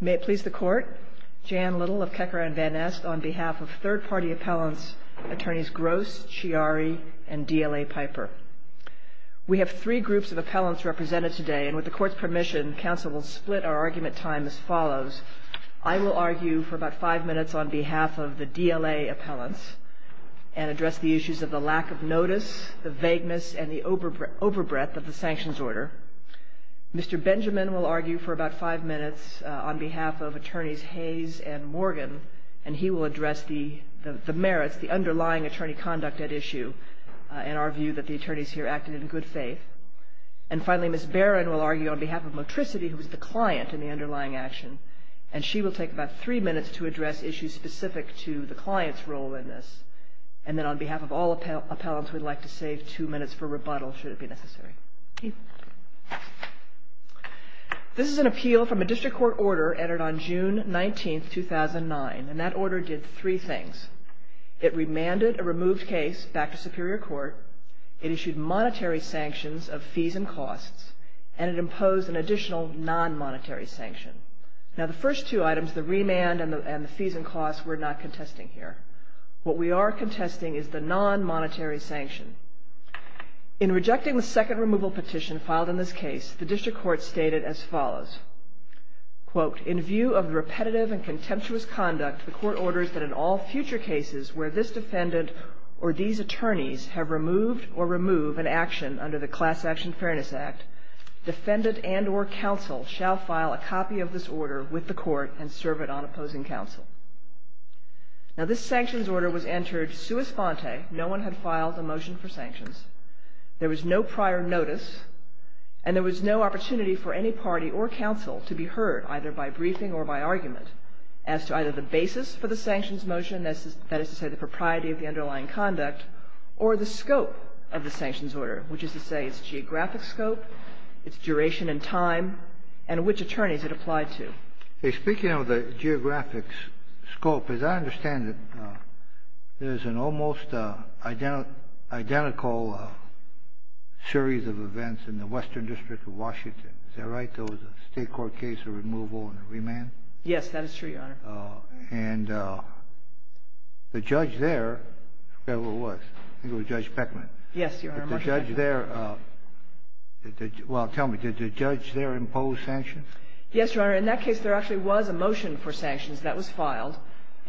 May it please the Court, Jan Little of Kecker and Van Nest, on behalf of third-party appellants, Attorneys Gross, Chiari, and D.L.A. Piper. We have three groups of appellants represented today, and with the Court's permission, Council will split our argument time as follows. I will argue for about five minutes on behalf of the D.L.A. appellants and address the issues of the lack of notice, the vagueness, and the overbreath of the sanctions order. Mr. Benjamin will argue for about five minutes on behalf of Attorneys Hayes and Morgan, and he will address the merits, the underlying attorney conduct at issue, and our view that the attorneys here acted in good faith. And finally, Ms. Barron will argue on behalf of Motricity, who is the client in the underlying action, and she will take about three minutes to address issues specific to the client's role in this. And then on behalf of all appellants, we'd like to save two minutes for rebuttal, should it be necessary. This is an appeal from a district court order entered on June 19, 2009, and that order did three things. It remanded a removed case back to Superior Court, it issued monetary sanctions of fees and costs, and it imposed an additional non-monetary sanction. Now, the first two items, the remand and the fees and costs, we're not contesting here. What we are contesting is the non-monetary sanction. In rejecting the second removal petition filed in this case, the district court stated as follows. Quote, in view of repetitive and contemptuous conduct, the court orders that in all future cases where this defendant or these attorneys have removed or remove an action under the Class Action Fairness Act, defendant and or counsel shall file a copy of this order with the court and serve it on opposing counsel. Now, this sanctions order was entered sua sponte. No one had filed a motion for sanctions. There was no prior notice, and there was no opportunity for any party or counsel to be heard, either by briefing or by argument, as to either the basis for the sanctions motion, that is to say the propriety of the underlying conduct, or the scope of the sanctions order, which is to say its geographic scope, its duration in time, and which attorneys it applied to. Hey, speaking of the geographic scope, as I understand it, there's an almost identical series of events in the Western District of Washington. Is that right? There was a state court case of removal and remand? Yes, that is true, Your Honor. And the judge there, whoever it was, I think it was Judge Beckman. Yes, Your Honor. But the judge there, well, tell me, did the judge there impose sanctions? Yes, Your Honor. In that case, there actually was a motion for sanctions that was filed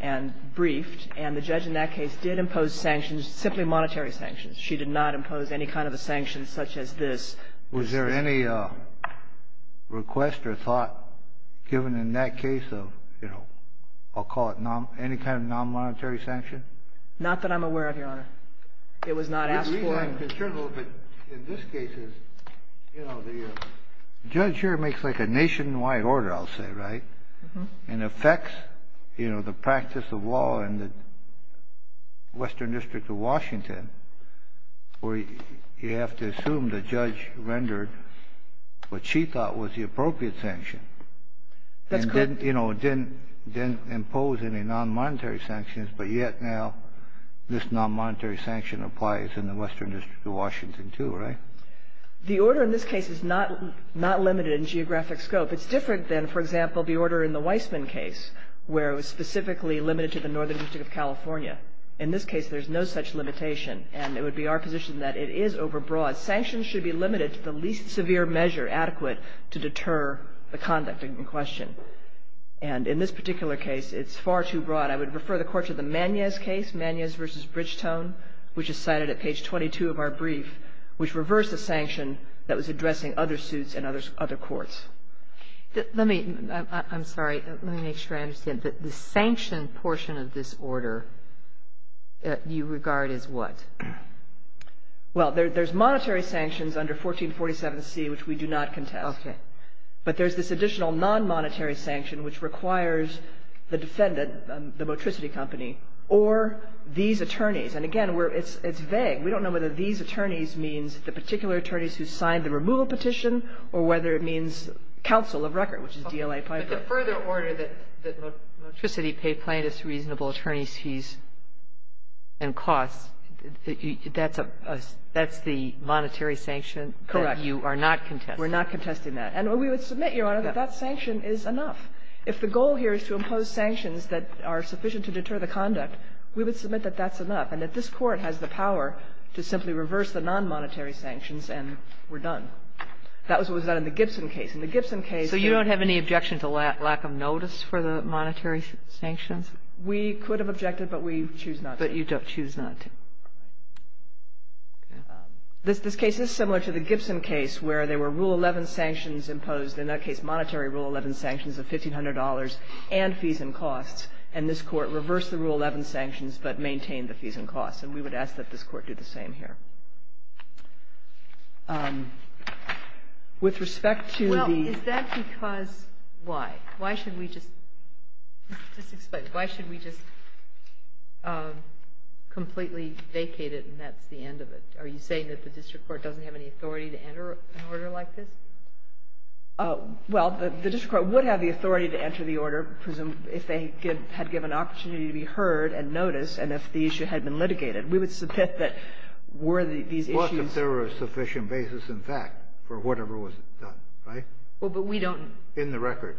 and briefed, and the judge in that case did impose sanctions, simply monetary sanctions. She did not impose any kind of a sanction such as this. Was there any request or thought given in that case of, you know, I'll call it any kind of nonmonetary sanction? Not that I'm aware of, Your Honor. It was not asked for. The reason I'm concerned a little bit in this case is, you know, the judge here makes like a nationwide order, I'll say, right, and affects, you know, the practice of law in the Western District of Washington where you have to assume the judge rendered what she thought was the appropriate sanction. That's correct. The judge, you know, didn't impose any nonmonetary sanctions, but yet now this nonmonetary sanction applies in the Western District of Washington, too, right? The order in this case is not limited in geographic scope. It's different than, for example, the order in the Weissman case where it was specifically limited to the Northern District of California. In this case, there's no such limitation, and it would be our position that it is overbroad. Sanctions should be limited to the least severe measure adequate to deter the conduct in question. And in this particular case, it's far too broad. I would refer the Court to the Manez case, Manez v. Bridgetone, which is cited at page 22 of our brief, which reversed a sanction that was addressing other suits and other courts. Let me – I'm sorry. Let me make sure I understand. The sanction portion of this order you regard as what? Well, there's monetary sanctions under 1447C which we do not contest. Okay. But there's this additional nonmonetary sanction which requires the defendant, the Motricity Company, or these attorneys. And again, it's vague. We don't know whether these attorneys means the particular attorneys who signed the removal petition or whether it means counsel of record, which is DLA Piper. But the further order that Motricity pay plaintiffs reasonable attorney fees and costs, that's a – that's the monetary sanction that you are not contesting? Correct. We're not contesting that. And we would submit, Your Honor, that that sanction is enough. If the goal here is to impose sanctions that are sufficient to deter the conduct, we would submit that that's enough and that this Court has the power to simply reverse the nonmonetary sanctions and we're done. That was what was done in the Gibson case. In the Gibson case – So you don't have any objection to lack of notice for the monetary sanctions? We could have objected, but we choose not to. But you choose not to. This case is similar to the Gibson case where there were Rule 11 sanctions imposed, in that case monetary Rule 11 sanctions of $1,500 and fees and costs. And this Court reversed the Rule 11 sanctions but maintained the fees and costs. And we would ask that this Court do the same here. With respect to the – Well, is that because – why? Why should we just – just explain. Why should we just completely vacate it and that's the end of it? Are you saying that the district court doesn't have any authority to enter an order like this? Well, the district court would have the authority to enter the order if they had given an opportunity to be heard and noticed and if the issue had been litigated. We would submit that were these issues – What if there were a sufficient basis in fact for whatever was done, right? Well, but we don't – In the record.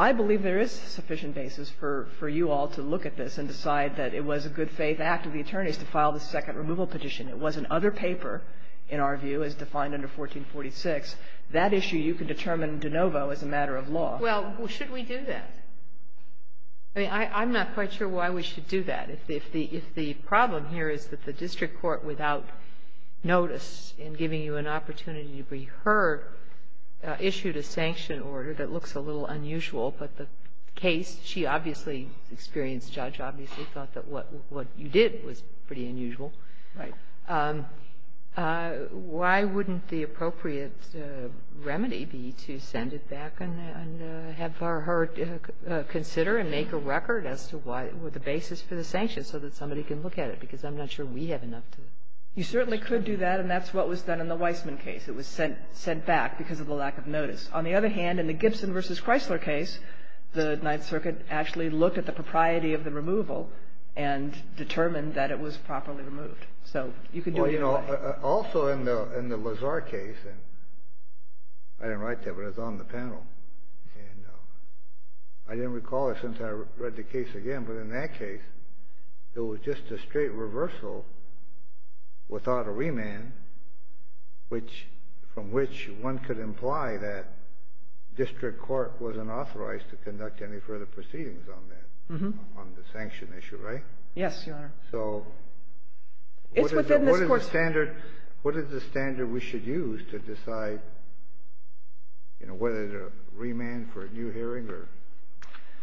I believe there is sufficient basis for you all to look at this and decide that it was a good faith act of the attorneys to file the second removal petition. It was an other paper, in our view, as defined under 1446. That issue you could determine de novo as a matter of law. Well, should we do that? I mean, I'm not quite sure why we should do that. If the problem here is that the district court without notice in giving you an opportunity to be heard issued a sanction order that looks a little unusual, but the case she obviously experienced, Judge obviously thought that what you did was pretty unusual. Right. Why wouldn't the appropriate remedy be to send it back and have her consider and make a record as to what the basis for the sanction so that somebody can look at it, because I'm not sure we have enough to – You certainly could do that, and that's what was done in the Weissman case. It was sent back because of the lack of notice. On the other hand, in the Gibson v. Chrysler case, the Ninth Circuit actually looked at the propriety of the removal and determined that it was properly removed. So you could do it either way. Also in the Lazar case – I didn't write that, but it was on the panel. I didn't recall it since I read the case again, but in that case, it was just a straight reversal without a remand from which one could imply that district court wasn't authorized to conduct any further proceedings on that, on the sanction issue. Right? Yes, Your Honor. So what is the standard we should use to decide, you know, whether to remand for a new hearing or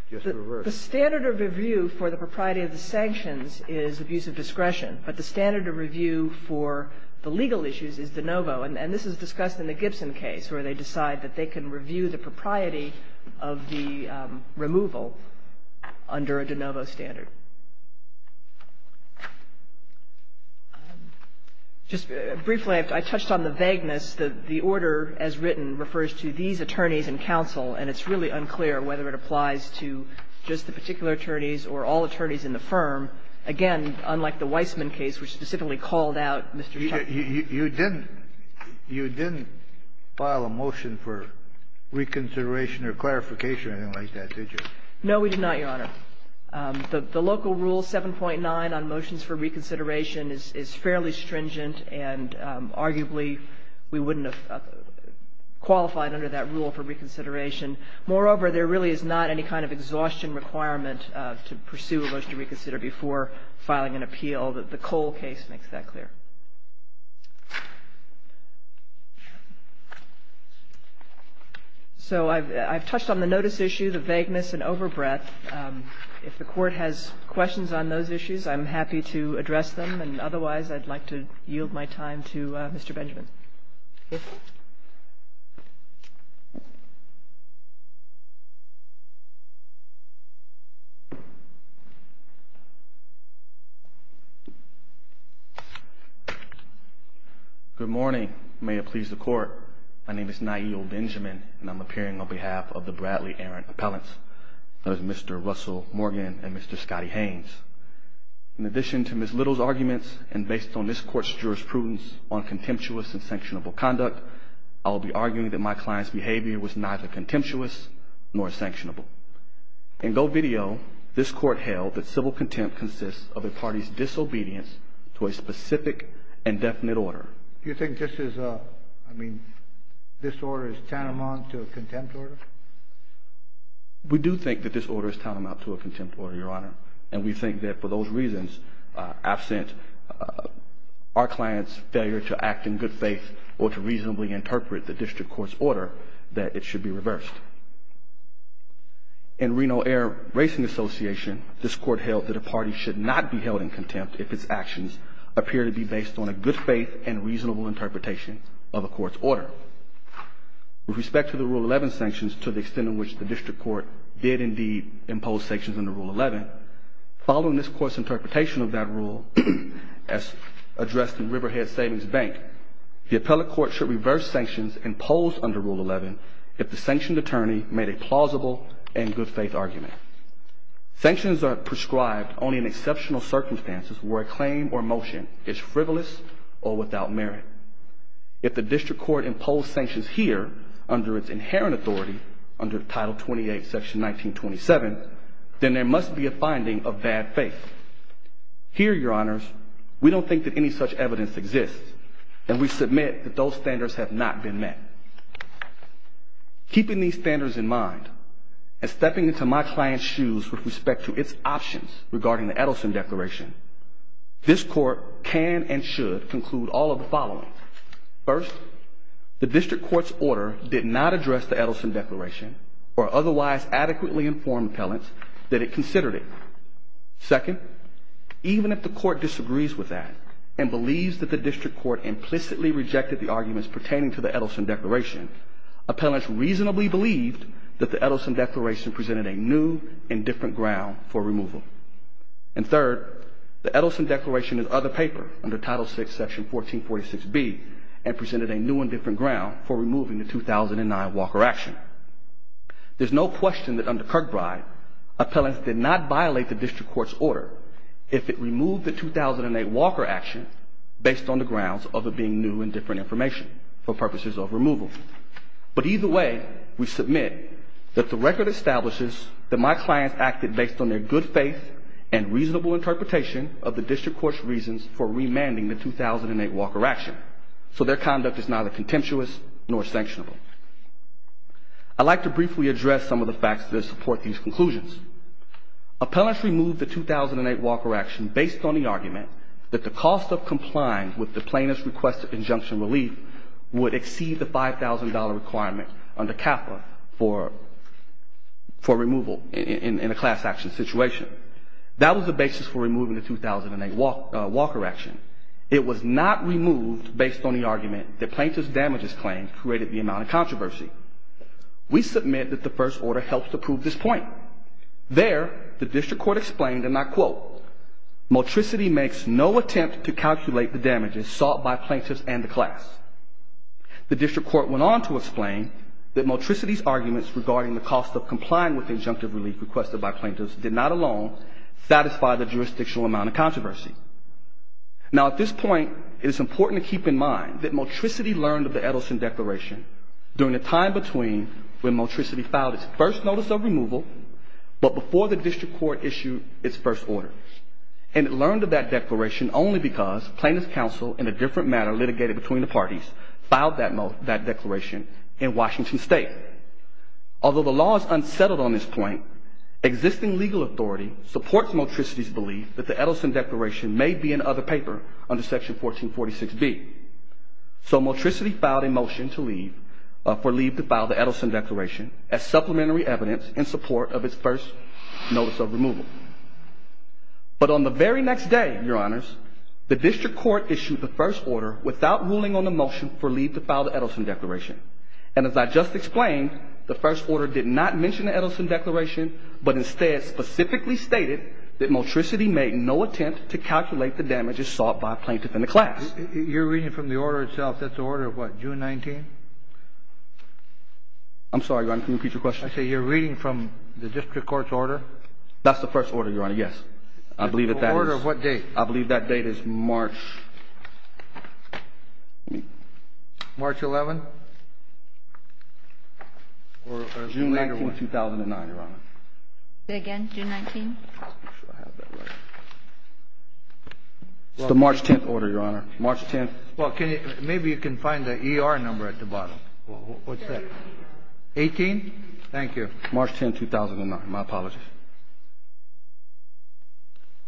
just reverse? The standard of review for the propriety of the sanctions is abuse of discretion, but the standard of review for the legal issues is de novo, and this is discussed in the Gibson case where they decide that they can review the propriety of the removal under a de novo standard. Just briefly, I touched on the vagueness that the order, as written, refers to these attorneys and counsel, and it's really unclear whether it applies to just the particular attorneys or all attorneys in the firm. Again, unlike the Weissman case, which specifically called out Mr. Chuck. You didn't file a motion for reconsideration or clarification or anything like that, did you? No, we did not, Your Honor. The local rule 7.9 on motions for reconsideration is fairly stringent, and arguably we wouldn't have qualified under that rule for reconsideration. Moreover, there really is not any kind of exhaustion requirement to pursue a motion to reconsider before filing an appeal. The Cole case makes that clear. So I've touched on the notice issue, the vagueness and overbreadth. If the Court has questions on those issues, I'm happy to address them, and otherwise I'd like to yield my time to Mr. Benjamin. Good morning. May it please the Court. My name is Niel Benjamin, and I'm appearing on behalf of the Bradley Aaron Appellants. That is Mr. Russell Morgan and Mr. Scotty Haynes. In addition to Ms. Little's arguments, and based on this Court's jurisprudence on contemptuous and sanctionable conduct, I'll be arguing that my client's behavior was neither contemptuous nor sanctionable. In gold video, this Court held that civil contempt consists of a party's disobedience to a specific and definite order. Do you think this is a, I mean, this order is tantamount to a contempt order? We do think that this order is tantamount to a contempt order, Your Honor, and we think that for those reasons, absent our client's failure to act in good faith or to reasonably interpret the district court's order, that it should be reversed. In Reno Air Racing Association, this Court held that a party should not be held in contempt if its actions appear to be based on a good faith and reasonable interpretation of a court's order. With respect to the Rule 11 sanctions, to the extent in which the district court did indeed impose sanctions under Rule 11, following this Court's interpretation of that rule, as addressed in Riverhead Savings Bank, the appellate court should reverse sanctions imposed under Rule 11 if the sanctioned attorney made a plausible and good faith argument. Sanctions are prescribed only in exceptional circumstances where a claim or motion is frivolous or without merit. If the district court imposed sanctions here, under its inherent authority, under Title 28, Section 1927, then there must be a finding of bad faith. Here, Your Honors, we don't think that any such evidence exists, and we submit that those standards have not been met. Keeping these standards in mind and stepping into my client's shoes with respect to its options regarding the Edelson Declaration, this Court can and should conclude all of the following. First, the district court's order did not address the Edelson Declaration or otherwise adequately inform appellants that it considered it. Second, even if the court disagrees with that and believes that the district court implicitly rejected the arguments pertaining to the Edelson Declaration, appellants reasonably believed that the Edelson Declaration presented a new and different ground for removal. And third, the Edelson Declaration is other paper under Title VI, Section 1446B, and presented a new and different ground for removing the 2009 Walker action. There's no question that under Kirkbride, appellants did not violate the district court's order if it removed the 2008 Walker action based on the grounds of it being new and different information for purposes of removal. But either way, we submit that the record establishes that my clients acted based on their good faith and reasonable interpretation of the district court's reasons for remanding the 2008 Walker action. So their conduct is neither contemptuous nor sanctionable. I'd like to briefly address some of the facts that support these conclusions. Appellants removed the 2008 Walker action based on the argument that the cost of complying with the plaintiff's request for injunction relief would exceed the $5,000 requirement under CAFA for removal in a class action situation. That was the basis for removing the 2008 Walker action. It was not removed based on the argument that plaintiff's damages claim created the amount of controversy. We submit that the first order helps to prove this point. There, the district court explained, and I quote, motricity makes no attempt to calculate the damages sought by plaintiffs and the class. The district court went on to explain that motricity's arguments regarding the cost of complying with injunctive relief requested by plaintiffs did not alone satisfy the jurisdictional amount of controversy. Now, at this point, it is important to keep in mind that motricity learned of the Edelson Declaration during the time between when motricity filed its first notice of removal, but before the district court issued its first order. And it learned of that declaration only because plaintiff's counsel in a different matter litigated between the parties filed that declaration in Washington State. Although the law is unsettled on this point, existing legal authority supports motricity's belief that the Edelson Declaration may be in other paper under Section 1446B. So motricity filed a motion to leave, for leave to file the Edelson Declaration, as supplementary evidence in support of its first notice of removal. But on the very next day, Your Honors, the district court issued the first order without ruling on the motion for leave to file the Edelson Declaration. And as I just explained, the first order did not mention the Edelson Declaration, but instead specifically stated that motricity made no attempt to calculate the damages sought by plaintiff and the class. You're reading from the order itself. That's the order of what, June 19? I'm sorry, Your Honor. Can you repeat your question? I say you're reading from the district court's order. That's the first order, Your Honor. Yes. I believe that that is. Order of what date? I believe that date is March. March 11? Or June 19, 2009, Your Honor. Say again, June 19? Let's make sure I have that right. It's the March 10 order, Your Honor. March 10. Well, maybe you can find the ER number at the bottom. What's that? 18. 18? Thank you. March 10, 2009. My apologies.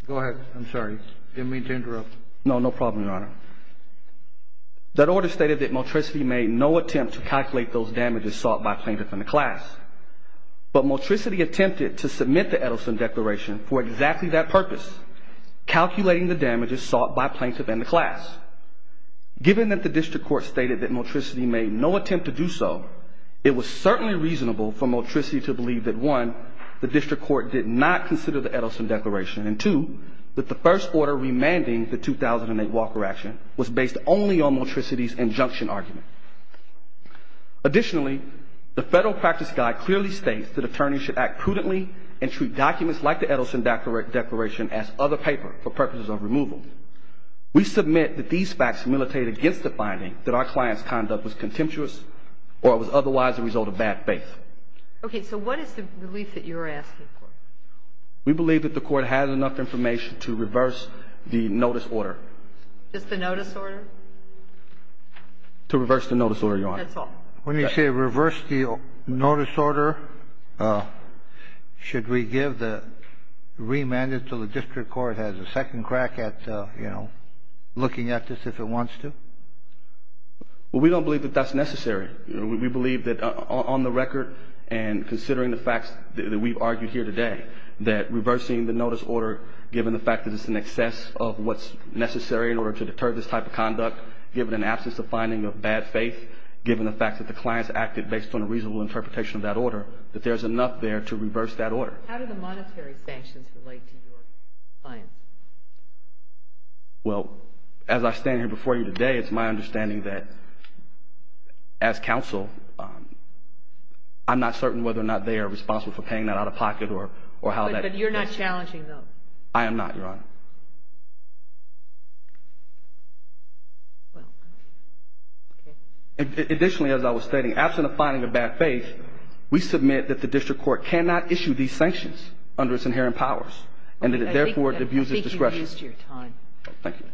Go ahead. I'm sorry. Didn't mean to interrupt. No. No problem, Your Honor. That order stated that motricity made no attempt to calculate those damages sought by plaintiff and the class. But motricity attempted to submit the Edelson Declaration for exactly that purpose, calculating the damages sought by plaintiff and the class. Given that the district court stated that motricity made no attempt to do so, it was certainly reasonable for motricity to believe that, one, the district court did not consider the Edelson Declaration, and, two, that the first order remanding the 2008 Walker action was based only on motricity's injunction argument. Additionally, the Federal Practice Guide clearly states that attorneys should act prudently and treat documents like the Edelson Declaration as other paper for purposes of removal. We submit that these facts militate against the finding that our client's conduct was contemptuous or was otherwise a result of bad faith. Okay. So what is the belief that you're asking for? We believe that the court had enough information to reverse the notice order. Just the notice order? To reverse the notice order, Your Honor. That's all. When you say reverse the notice order, should we give the remand until the district court has a second crack at, you know, looking at this if it wants to? Well, we don't believe that that's necessary. We believe that on the record and considering the facts that we've argued here today, that reversing the notice order, given the fact that it's in excess of what's necessary in order to deter this type of conduct, given an absence of finding of bad faith, given the fact that the client's acted based on a reasonable interpretation of that order, that there's enough there to reverse that order. How do the monetary sanctions relate to your client? Well, as I stand here before you today, it's my understanding that as counsel, I'm not certain whether or not they are responsible for paying that out of pocket or how that is. You're not challenging them. I am not, Your Honor. Well, okay. Additionally, as I was stating, absent of finding of bad faith, we submit that the district court cannot issue these sanctions under its inherent powers and that it therefore abuses discretion. I think you've used your time. Thank you.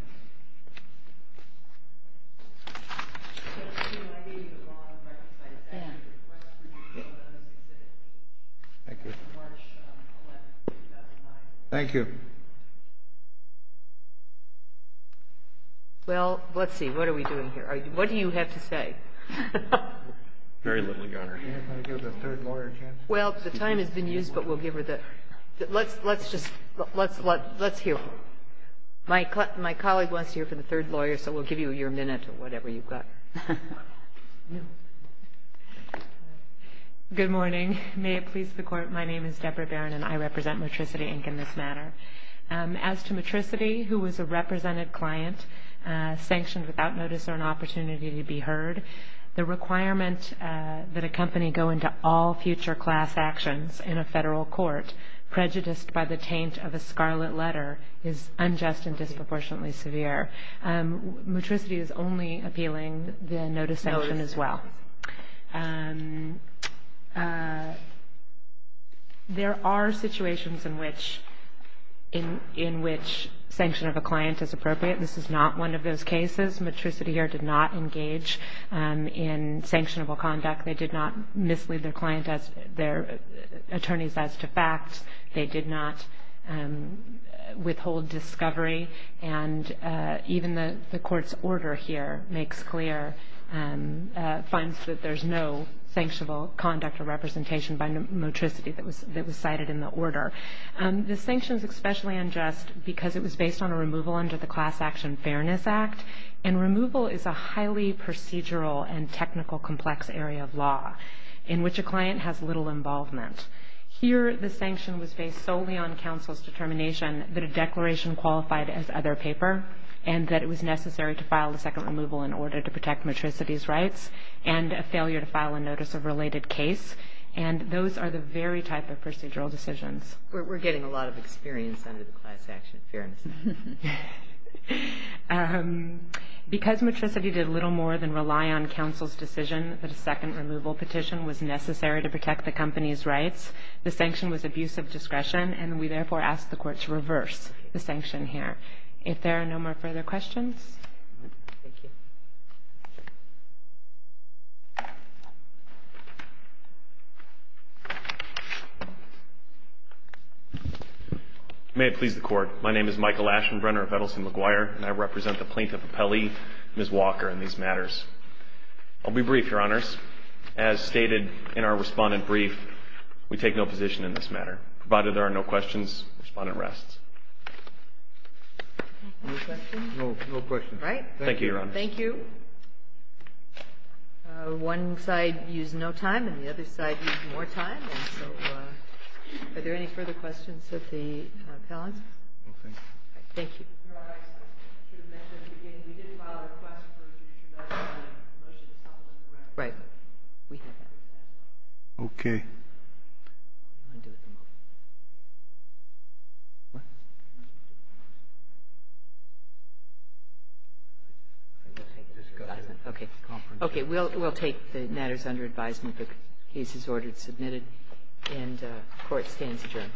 Thank you. Well, let's see. What are we doing here? What do you have to say? Very little, Your Honor. Can I give the third lawyer a chance? Well, the time has been used, but we'll give her the – let's just – let's hear her. My colleague wants to hear from the third lawyer, so we'll give you your minute or whatever you've got. Good morning. May it please the Court, my name is Deborah Barron, and I represent Matricity Inc. in this matter. As to Matricity, who was a represented client, sanctioned without notice or an opportunity to be heard, the requirement that a company go into all future class actions in a federal court prejudiced by the taint of a scarlet letter is unjust and disproportionately severe. Matricity is only appealing the notice sanction as well. There are situations in which sanction of a client is appropriate. This is not one of those cases. Matricity here did not engage in sanctionable conduct. They did not mislead their attorneys as to facts. They did not withhold discovery. And even the Court's order here makes clear – finds that there's no sanctionable conduct or representation by Matricity that was cited in the order. The sanction is especially unjust because it was based on a removal under the Class Action Fairness Act, and removal is a highly procedural and technical complex area of law in which a client has little involvement. Here the sanction was based solely on counsel's determination that a declaration qualified as other paper and that it was necessary to file a second removal in order to protect Matricity's rights and a failure to file a notice of related case, and those are the very type of procedural decisions. We're getting a lot of experience under the Class Action Fairness Act. Because Matricity did little more than rely on counsel's decision that a second removal petition was necessary to protect the company's rights, the sanction was abuse of discretion, and we therefore ask the Court to reverse the sanction here. If there are no more further questions? Thank you. May it please the Court. My name is Michael Aschenbrenner of Edelson McGuire, and I represent the plaintiff, Appelli, Ms. Walker, in these matters. I'll be brief, Your Honors. As stated in our Respondent Brief, we take no position in this matter. Provided there are no questions, Respondent rests. No questions? No questions. All right. Thank you, Your Honors. Thank you. One side used no time and the other side used more time, so are there any further questions of the appellants? No, thank you. All right. Thank you. Your Honor, I should have mentioned at the beginning, we did file a request for a judicial document, a motion to supplement the record. Right. We have that. Okay. Okay. We'll take the matters under advisement. The case is ordered and submitted, and the Court stands adjourned.